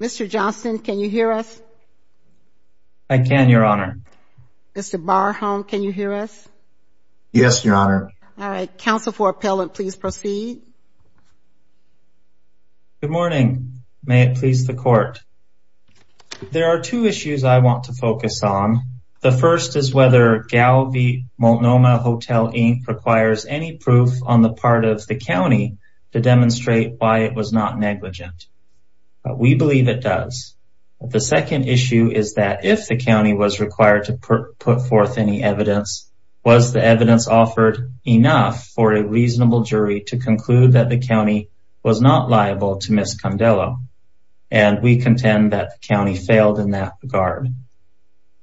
Mr. Johnston, can you hear us? I can, your honor. Mr. Barholm, can you hear us? Yes, your honor. All right. Counsel for appellant, please proceed. Good morning. May it please the court. There are two issues I want to focus on. The first is whether Galvey Multnomah Hotel Inc. requires any proof on the part of the We believe it does. The second issue is that if the county was required to put forth any evidence, was the evidence offered enough for a reasonable jury to conclude that the county was not liable to Ms. Condello? And we contend that the county failed in that regard.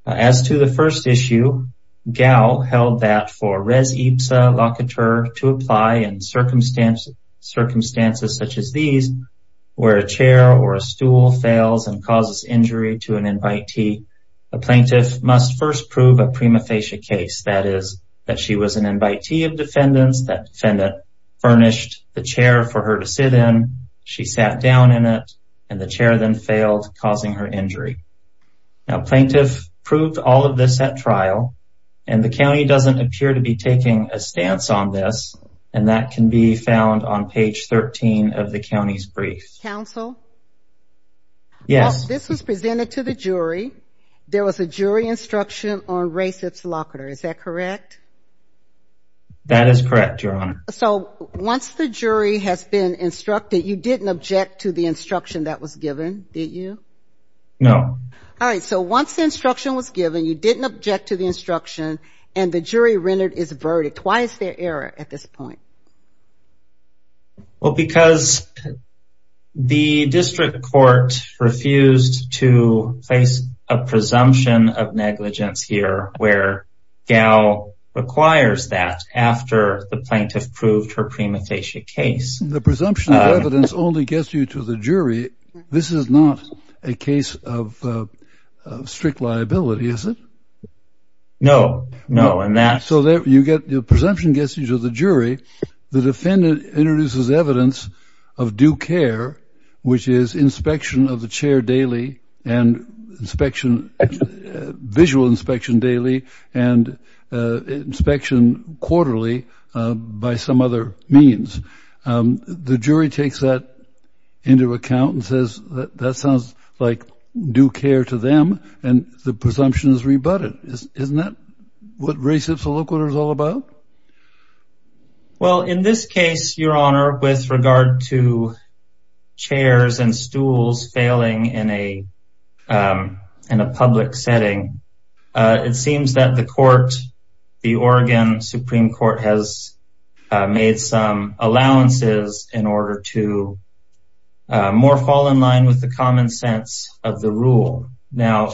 As to the first issue, GAL held that for where a chair or a stool fails and causes injury to an invitee, a plaintiff must first prove a prima facie case. That is, that she was an invitee of defendants, that defendant furnished the chair for her to sit in, she sat down in it, and the chair then failed, causing her injury. Now, plaintiff proved all of this at trial, and the county doesn't appear to be taking a stance on this, and that can be found on page 13 of the county's briefs. Counsel? Yes. This was presented to the jury. There was a jury instruction on race observatory. Is that correct? That is correct, Your Honor. So once the jury has been instructed, you didn't object to the instruction that was given, did you? No. All right. So once the instruction was given, you didn't object to the instruction, and the jury rendered its verdict. Why is there error at this point? Well, because the district court refused to face a presumption of negligence here, where GAL requires that after the plaintiff proved her prima facie case. The presumption of evidence only gets you to the jury. This is not a case of So the presumption gets you to the jury. The defendant introduces evidence of due care, which is inspection of the chair daily, and inspection, visual inspection daily, and inspection quarterly by some other means. The jury takes that into account and says, that sounds like due care to them, and the plaintiffs will look what it's all about. Well, in this case, Your Honor, with regard to chairs and stools failing in a public setting, it seems that the court, the Oregon Supreme Court has made some allowances in order to more fall in line with the common sense of the rule. Now,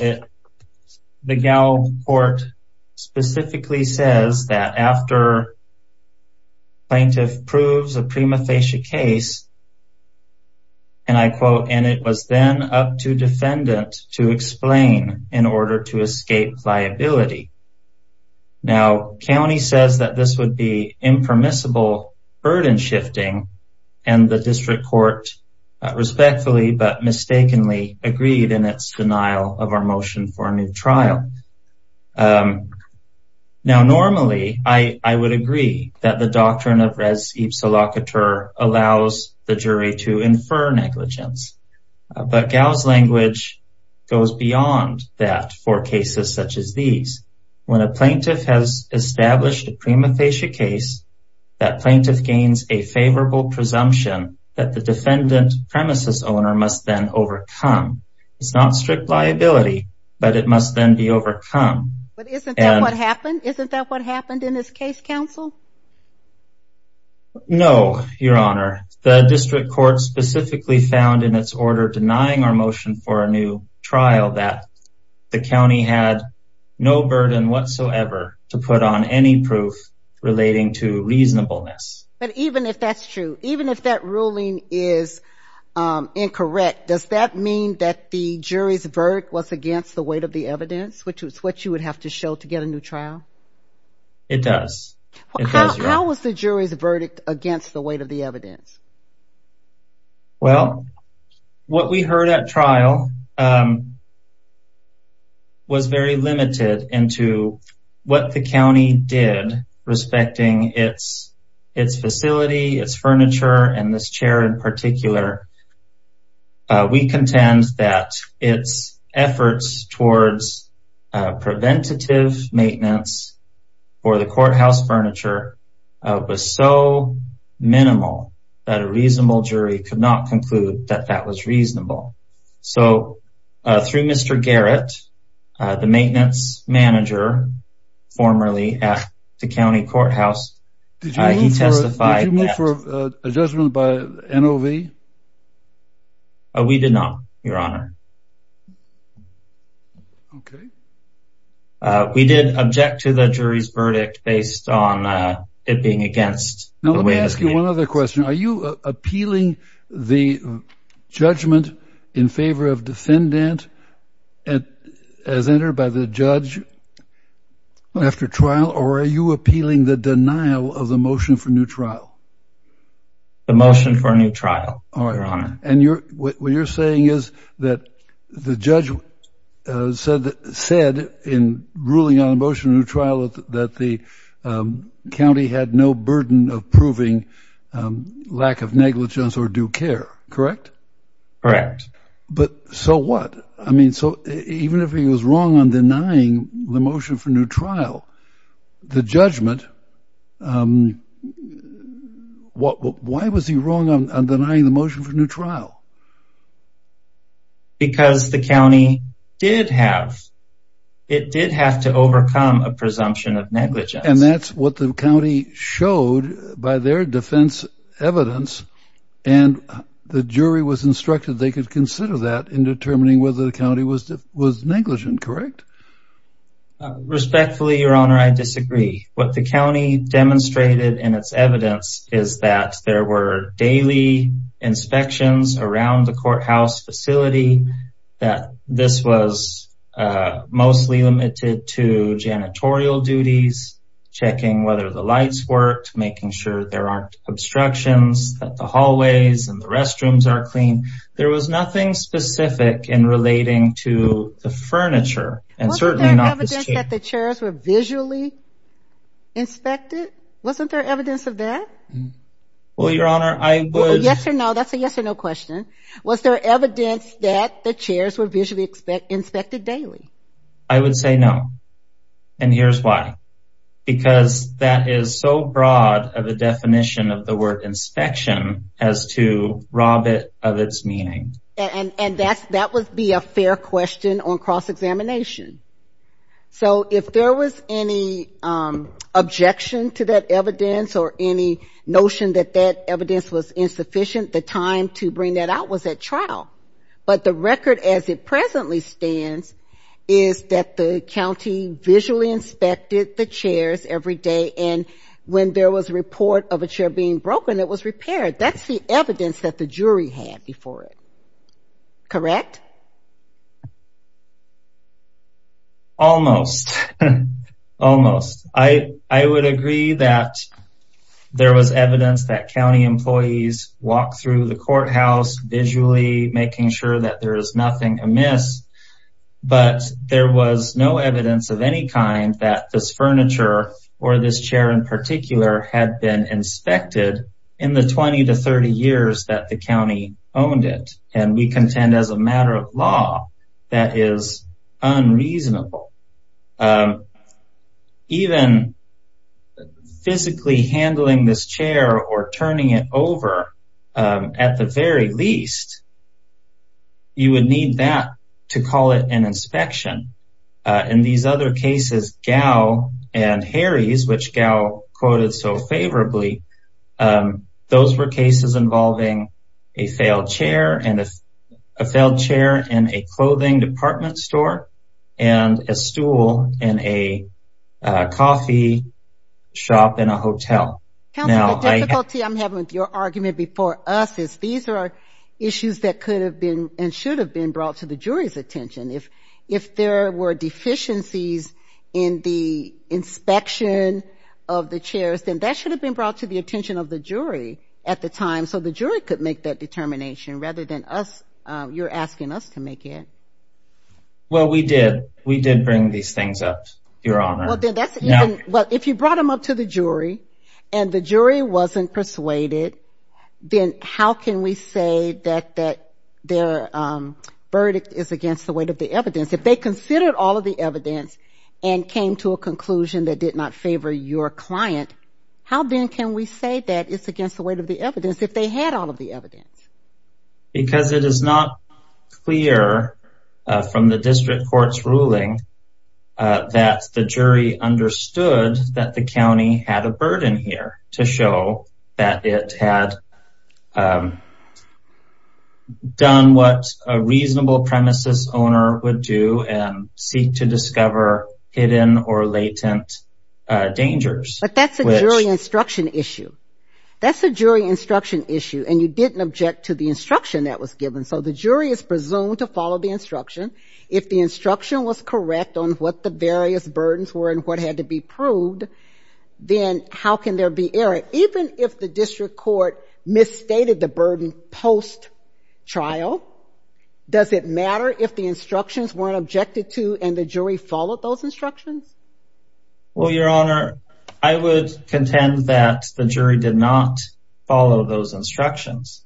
the GAL court specifically says that after plaintiff proves a prima facie case, and I quote, and it was then up to defendant to explain in order to escape liability. Now, county says that this would be impermissible burden shifting, and the district court respectfully but mistakenly agreed in its denial of our motion for a new trial. Now, normally, I would agree that the doctrine of res ipsa locator allows the jury to infer negligence. But GAL's language goes beyond that for cases such as these. When a plaintiff has established a prima facie case, that plaintiff gains a favorable presumption that the defendant premises owner must then overcome. It's not strict liability, but it must then be overcome. But isn't that what happened? Isn't that what happened in this case, counsel? No, Your Honor, the district court specifically found in its order denying our motion for a new trial that the county had no burden whatsoever to put on any proof relating to reasonableness. But even if that's true, even if that incorrect, does that mean that the jury's verdict was against the weight of the evidence, which is what you would have to show to get a new trial? It does. How was the jury's verdict against the weight of the evidence? Well, what we heard at trial, um, was very limited into what the county did respecting its its facility, its facility. We contend that its efforts towards preventative maintenance for the courthouse furniture was so minimal that a reasonable jury could not conclude that that was reasonable. So through Mr. Garrett, the maintenance manager formerly at the county courthouse, he testified... We did not, Your Honor. Okay. We did object to the jury's verdict based on it being against... Now let me ask you one other question. Are you appealing the judgment in favor of defendant as entered by the judge after trial? Or are you appealing the denial of the motion for new trial? The motion for a new trial, Your Honor. And what you're saying is that the judge said in ruling on a motion for a new trial that the county had no burden of proving lack of negligence or due care, correct? Correct. But so what? I mean, so even if he was wrong on denying the motion for new trial, the judgment, um, why was he wrong on denying the motion for new trial? Because the county did have, it did have to overcome a presumption of negligence. And that's what the county showed by their defense evidence. And the jury was instructed they could consider that in determining whether the county was negligent, correct? Respectfully, Your Honor, I disagree. What the county demonstrated in its evidence is that there were daily inspections around the courthouse facility, that this was mostly limited to janitorial duties, checking whether the lights worked, making sure there aren't obstructions, that the hallways and the restrooms are clean. There was nothing specific in relating to the furniture. And certainly not this chair. Wasn't there evidence that the chairs were visually inspected? Wasn't there evidence of that? Well, Your Honor, I would... Yes or no, that's a yes or no question. Was there evidence that the chairs were visually inspected daily? I would say no. And here's why. Because that is so broad of a definition of the word inspection as to rob it of its meaning. And that would be a fair question on cross-examination. So if there was any objection to that evidence or any notion that that evidence was insufficient, the time to bring that out was at trial. But the record as it presently stands is that the county visually inspected the chairs every day. And when there was a report of a chair being broken, it was repaired. That's the evidence that the jury had before it. Correct? Almost. Almost. I would agree that there was evidence that county employees walked through the courthouse visually, making sure that there is nothing amiss. But there was no evidence of any kind that this furniture or this chair in particular had been inspected in the 20 to 30 years that the county owned it. And we contend as a matter of law, that is unreasonable. Even physically handling this chair or turning it over, at the very least, you would need that to call it an inspection. In these other cases, Gow and Harry's, which Gow quoted so favorably, those were cases involving a failed chair and a failed chair in a clothing department store and a stool in a coffee shop in a hotel. Counsel, the difficulty I'm having with your argument before us is these are issues that could have been and should have been brought to the jury's attention. If there were deficiencies in the inspection of the chairs, then that should have been brought to the attention of the jury at the time, so the jury could make that determination rather than us. You're asking us to make it. Well, we did. We did bring these things up, Your Honor. Well, if you brought them up to the jury and the jury wasn't persuaded, then how can we say that their verdict is against the weight of the evidence? If they considered all of the evidence and came to a conclusion that did not favor your client, how then can we say that it's against the weight of the evidence if they had all of the evidence? Because it is not clear from the district court's ruling that the jury understood that the county had a burden here to show that it had done what a reasonable premises owner would do and seek to discover hidden or latent dangers. But that's a jury instruction issue. That's a jury instruction issue, and you didn't object to the instruction that was given. So the jury is presumed to follow the instruction. If the instruction was correct on what the various burdens were and what had to be proved, then how can there be error? Even if the district court misstated the burden post-trial, does it matter if the instructions weren't objected to and the jury followed those instructions? Well, Your Honor, I would contend that the jury did not follow those instructions.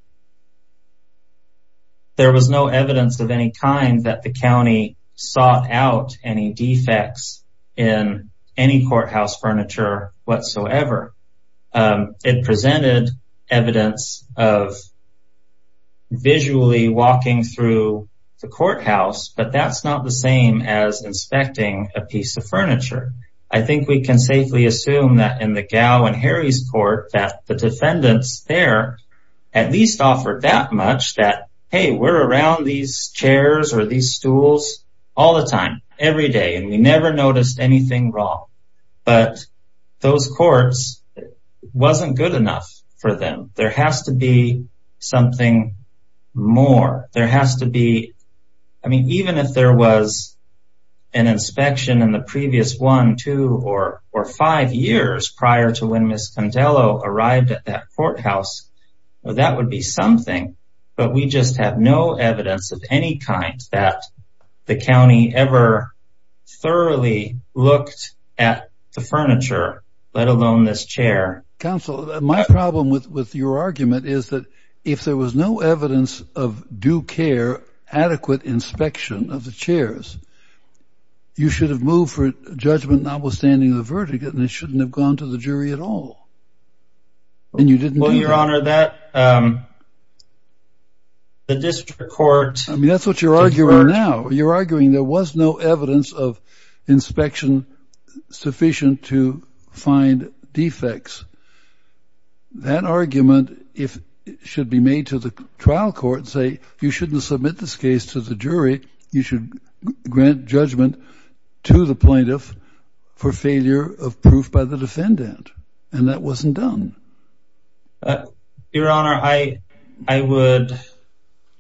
There was no evidence of any kind that the county sought out any defects in any courthouse furniture whatsoever. It presented evidence of visually walking through the courthouse, but that's not the same as inspecting a piece of furniture. I think we can safely assume that in the Gao and Harry's court that the defendants there at least offered that much that, hey, we're around these chairs or these stools all the time, every day, and we never noticed anything wrong. But those courts, it wasn't good enough for them. There has to be something more. There has to be. I mean, even if there was an inspection in the previous one, two or five years prior to when Ms. Condello arrived at that courthouse, that would be something. But we just have no evidence of any kind that the county ever thoroughly looked at the furniture, let alone this chair. Counsel, my problem with your argument is that if there was no evidence of due care, adequate inspection of the chairs, you should have moved for judgment notwithstanding the fall. And you didn't. Well, Your Honor, that the district court. I mean, that's what you're arguing now. You're arguing there was no evidence of inspection sufficient to find defects. That argument, if it should be made to the trial court, say you shouldn't submit this case to the jury. You should grant judgment to the plaintiff for failure of proof by the defendant. And that wasn't done. Your Honor, I, I would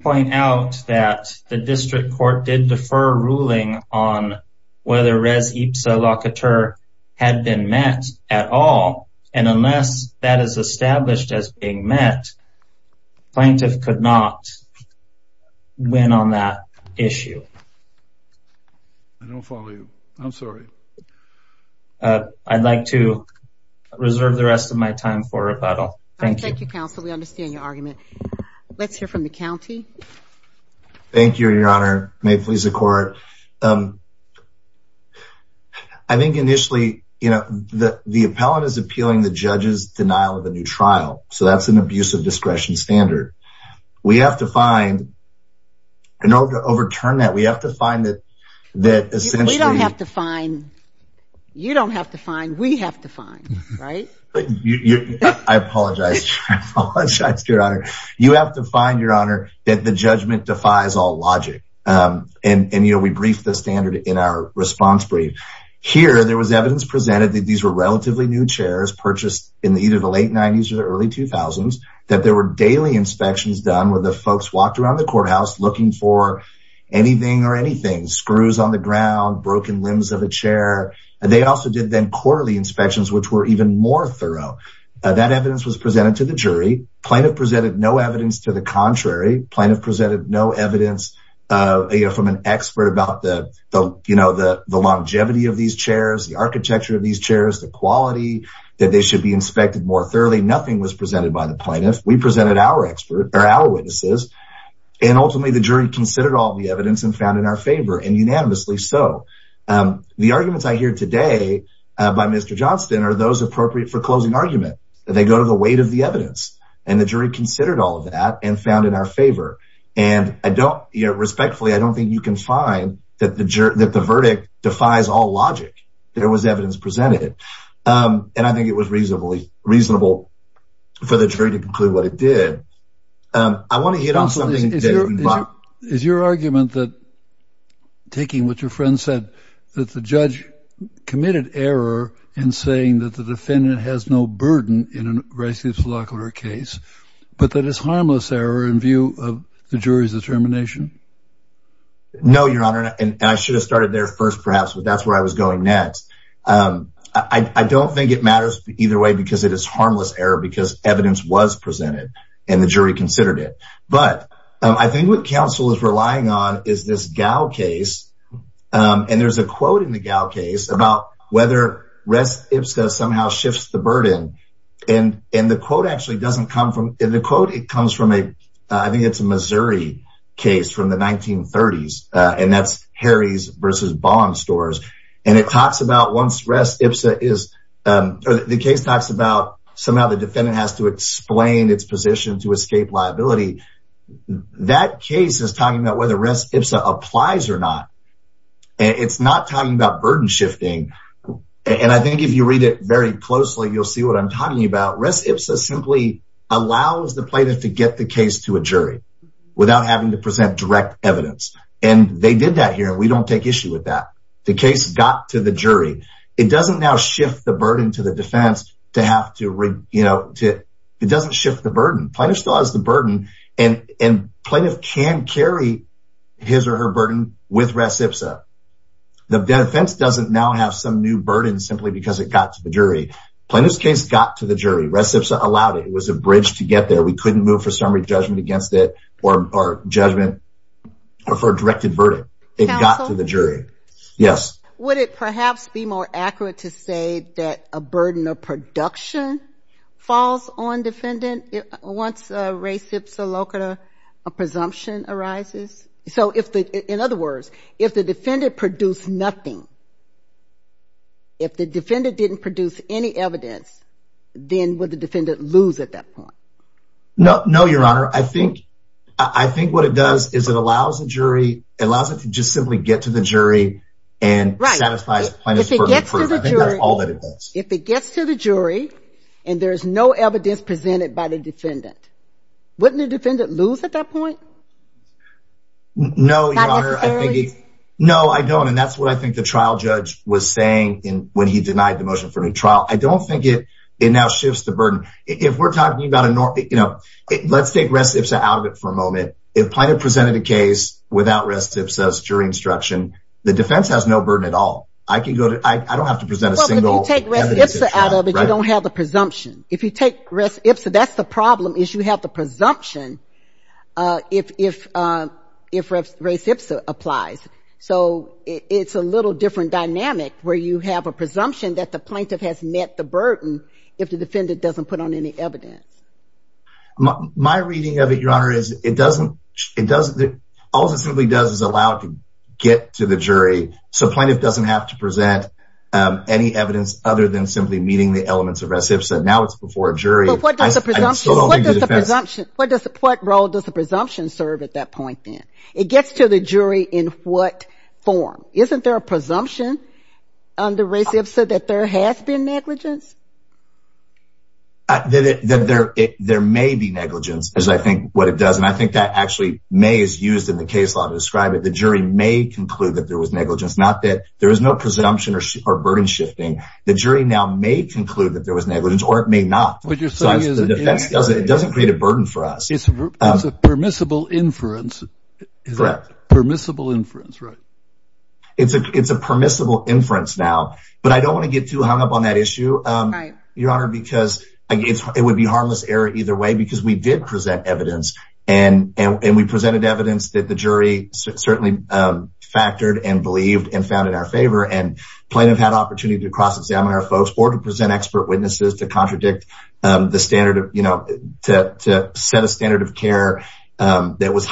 point out that the district court did defer ruling on whether Rez Ipsa La Couture had been met at all. And unless that is established as being met, plaintiff could not win on that issue. I'd like to reserve the rest of my time for rebuttal. Thank you, counsel. We understand your argument. Let's hear from the county. Thank you, Your Honor. May it please the court. I think initially, you know, the appellant is appealing the judge's denial of a new trial. So that's an abuse of discretion standard. We have to find in order to overturn that. We have to find that that we don't have to find. You don't have to find. We have to find. Right. I apologize. I apologize, Your Honor. You have to find, Your Honor, that the judgment defies all logic. And, you know, we briefed the standard in our response brief here. There was evidence presented that these were relatively new chairs purchased in either the late 90s or early 2000s, that there were daily inspections done where the folks walked around the courthouse looking for anything or anything, screws on the ground, broken limbs of a chair. They also did then quarterly inspections, which were even more thorough. That evidence was presented to the jury. Plaintiff presented no evidence to the contrary. Plaintiff presented no evidence from an expert about the, you know, the longevity of these chairs, the architecture of these chairs, the quality that they should be inspected more thoroughly. Nothing was presented by the plaintiff. We presented our expert or our witnesses, and ultimately the jury considered all the evidence and found in our favor and unanimously so. The arguments I hear today by Mr. Johnston are those appropriate for closing argument. They go to the weight of the evidence. And the jury considered all of that and found in our favor. And I don't, respectfully, I don't think you can find that the verdict defies all logic. There was evidence presented. And I think it was reasonably reasonable for the jury to conclude what it did. I want to hit on something. Is your argument that taking what your friend said, that the judge committed error in saying that the defendant has no burden in a racist, locular case, but that it's harmless error in view of the jury's determination? No, Your Honor. And I should have started there first, perhaps, but that's where I was going next. I don't think it matters either way because it is harmless error because evidence was presented and the jury considered it. But I think what counsel is relying on is this Gow case. And there's a quote in the Gow case about whether res ipsa somehow shifts the burden. And the quote actually doesn't come from the quote. It comes from a I think it's a Missouri case from the 1930s. And that's Harry's versus Bond stores. And it talks about once res ipsa is the case talks about somehow the defendant has to explain its position to escape liability. That case is talking about whether res ipsa applies or not. It's not talking about burden shifting. And I think if you read it very closely, you'll see what I'm talking about. Res ipsa simply allows the plaintiff to get the case to a jury without having to present direct evidence. And they did that here. We don't take issue with that. The case got to the jury. It doesn't now shift the burden to the defense to have to, you know, it doesn't shift the burden. Plaintiff still has the burden and plaintiff can carry his or her burden with res ipsa. The defense doesn't now have some new burden simply because it got to the jury. Plaintiff's case got to the jury. Res ipsa allowed it. It was a bridge to get there. We couldn't move for summary judgment against it or judgment or for a directed verdict. It got to the jury. Yes. Would it perhaps be more accurate to say that a burden of production falls on defendant once res ipsa locata presumption arises? So if in other words, if the defendant produced nothing. If the defendant didn't produce any evidence, then would the defendant lose at that point? No, no, Your Honor. I think I think what it does is it allows the jury allows it to just simply get to the jury and satisfies plaintiff's burden. If it gets to the jury and there is no evidence presented by the defendant, wouldn't the defendant lose at that point? No, Your Honor. No, I don't. And that's what I think the trial judge was saying when he denied the motion for a new trial. I don't think it now shifts the burden. If we're talking about a normal, you know, let's take res ipsa out of it for a moment. If plaintiff presented a case without res ipsa jury instruction, the defense has no burden at all. I can go to. I don't have to present a single evidence out of it. You don't have the presumption. If you take res ipsa, that's the problem is you have the presumption. If res ipsa applies. So it's a little different dynamic where you have a presumption that the plaintiff has met the burden. If the defendant doesn't put on any evidence. My reading of it, Your Honor, is it doesn't it doesn't. All it simply does is allow it to get to the jury. So plaintiff doesn't have to present any evidence other than simply meeting the elements of res ipsa. Now it's before a jury. But what does the presumption, what does the role does the presumption serve at that point then? It gets to the jury in what form? Isn't there a presumption on the res ipsa that there has been negligence? There may be negligence, as I think what it does, and I think that actually may is used in the case law to describe it. The jury may conclude that there was negligence, not that there is no presumption or burden shifting. The jury now may conclude that there was negligence or it may not. But your son is it doesn't create a burden for us. It's a permissible inference, permissible inference. Right. It's a it's a permissible inference now, but I don't want to get too hung up on that issue, Your Honor, because it would be harmless error either way, because we did present evidence and we presented evidence that the jury certainly factored and believed and found in our favor. And plaintiff had opportunity to cross examine our folks or to present expert witnesses to contradict the standard of, you know, to set a standard of care that was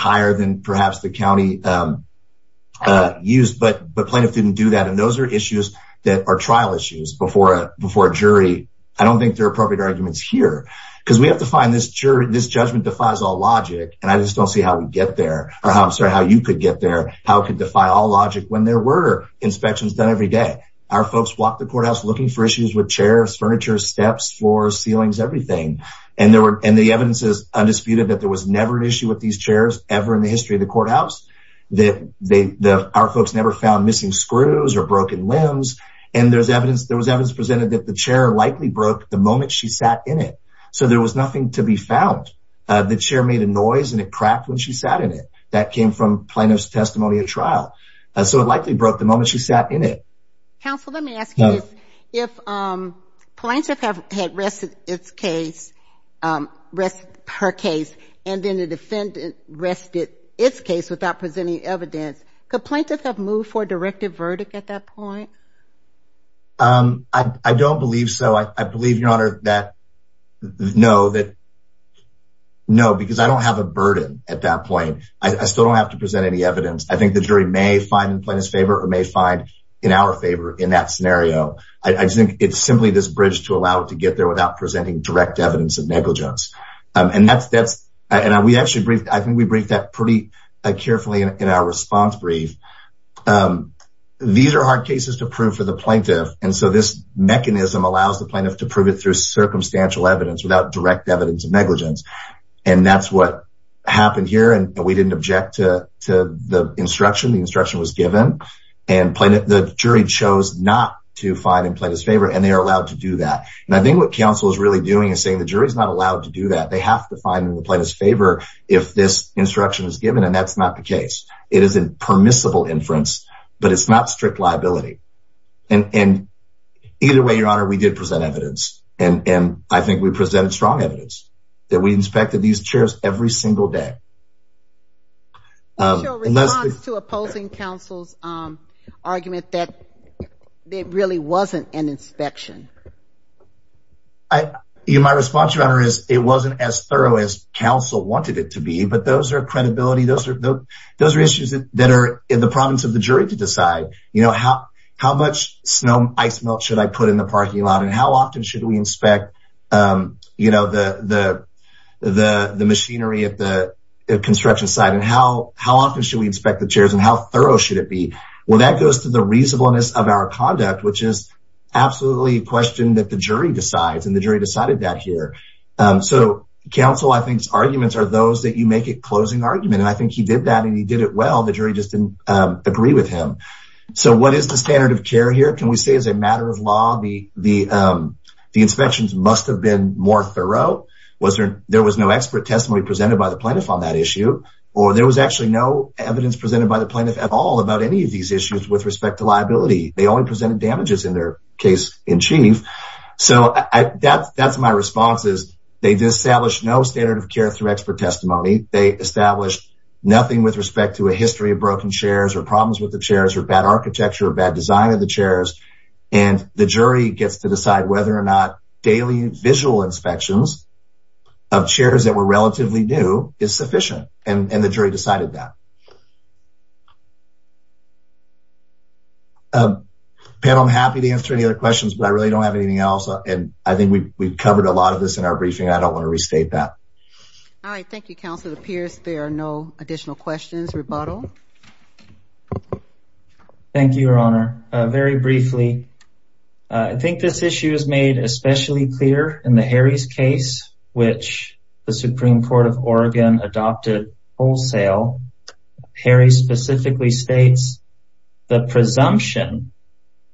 used. But the plaintiff didn't do that. And those are issues that are trial issues before before a jury. I don't think they're appropriate arguments here because we have to find this jury. This judgment defies all logic. And I just don't see how we get there or how I'm sorry, how you could get there, how it could defy all logic when there were inspections done every day. Our folks walked the courthouse looking for issues with chairs, furniture, steps, floors, ceilings, everything. And there were and the evidence is undisputed that there was never an issue with these chairs ever in the history of the courthouse that they the our folks never found missing screws or broken limbs. And there's evidence there was evidence presented that the chair likely broke the moment she sat in it. So there was nothing to be found. The chair made a noise and it cracked when she sat in it. That came from plaintiff's testimony at trial. So it likely broke the moment she sat in it. Counsel, let me ask you if plaintiff have had rested its case, rest her case, and then the defendant rested its case without presenting evidence. Could plaintiff have moved for a directive verdict at that point? I don't believe so. I believe, Your Honor, that no, that no, because I don't have a burden at that point. I still don't have to present any evidence. I think the jury may find in plaintiff's favor or may find in our favor in that scenario. I think it's simply this bridge to allow it to get there without presenting direct evidence of negligence. And that's that's and we actually briefed. I think we briefed that pretty carefully in our response brief. These are hard cases to prove for the plaintiff. And so this mechanism allows the plaintiff to prove it through circumstantial evidence without direct evidence of negligence. And that's what happened here. And we didn't object to the instruction. The instruction was given and the jury chose not to find in plaintiff's favor. And they are allowed to do that. And I think what counsel is really doing is saying the jury is not allowed to do that. They have to find in the plaintiff's favor if this instruction is given. And that's not the case. It is a permissible inference, but it's not strict liability. And either way, Your Honor, we did present evidence. And I think we presented strong evidence that we inspected these chairs every single day. What's your response to opposing counsel's argument that it really wasn't an inspection? My response, Your Honor, is it wasn't as thorough as counsel wanted it to be. But those are credibility. Those are issues that are in the province of the jury to decide. You know, how much snow ice melt should I put in the parking lot? And how often should we inspect, you know, the machinery at the construction site? And how often should we inspect the chairs? And how thorough should it be? Well, that goes to the reasonableness of our conduct, which is absolutely a question that the jury decides, and the jury decided that here. So counsel, I think, arguments are those that you make a closing argument. And I think he did that and he did it well. The jury just didn't agree with him. So what is the standard of care here? Can we say as a matter of law, the inspections must have been more thorough? Was there there was no expert testimony presented by the plaintiff on that issue? Or there was actually no evidence presented by the plaintiff at all about any of these issues with respect to liability? They only presented damages in their case in chief. So that's my response is they established no standard of care through expert testimony. They established nothing with respect to a history of broken chairs or problems with the chairs or bad architecture or bad design of the chairs. And the jury gets to decide whether or not daily visual inspections of chairs that were relatively new is sufficient. And the jury decided that. Pam, I'm happy to answer any other questions, but I really don't have anything else. And I think we've covered a lot of this in our briefing. I don't want to restate that. All right. Thank you, counsel. It appears there are no additional questions. Rebuttal. Thank you, Your Honor. Very briefly, I think this issue is made especially clear in the Harry's case, which the Supreme Court of Oregon adopted wholesale. Harry specifically states, the presumption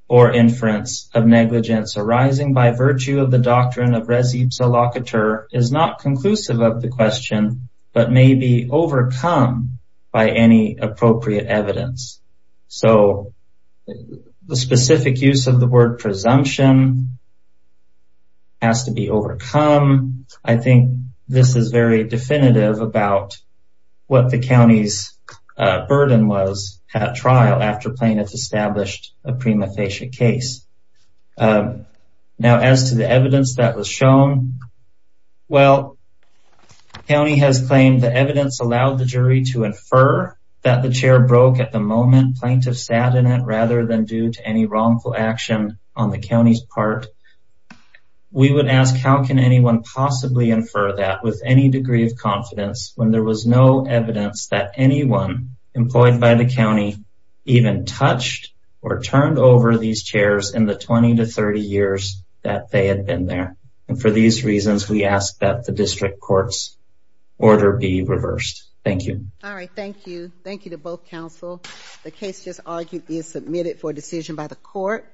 or inference of negligence arising by virtue of the doctrine of res ipsa locator is not conclusive of the question, but may be overcome by any appropriate evidence. So the specific use of the word presumption has to be overcome. I think this is very definitive about what the county's burden was at trial after plaintiffs established a prima facie case. Now, as to the evidence that was shown, well, the county has claimed the evidence allowed the jury to infer that the chair broke at the moment plaintiffs sat in it rather than due to any wrongful action on the county's part. We would ask, how can anyone possibly infer that with any degree of confidence when there was no evidence that anyone employed by the county even touched or turned over these chairs in the 20 to 30 years that they had been there? And for these reasons, we ask that the district court's order be reversed. Thank you. All right. Thank you. Thank you to both counsel. The case just argued is submitted for decision by the court.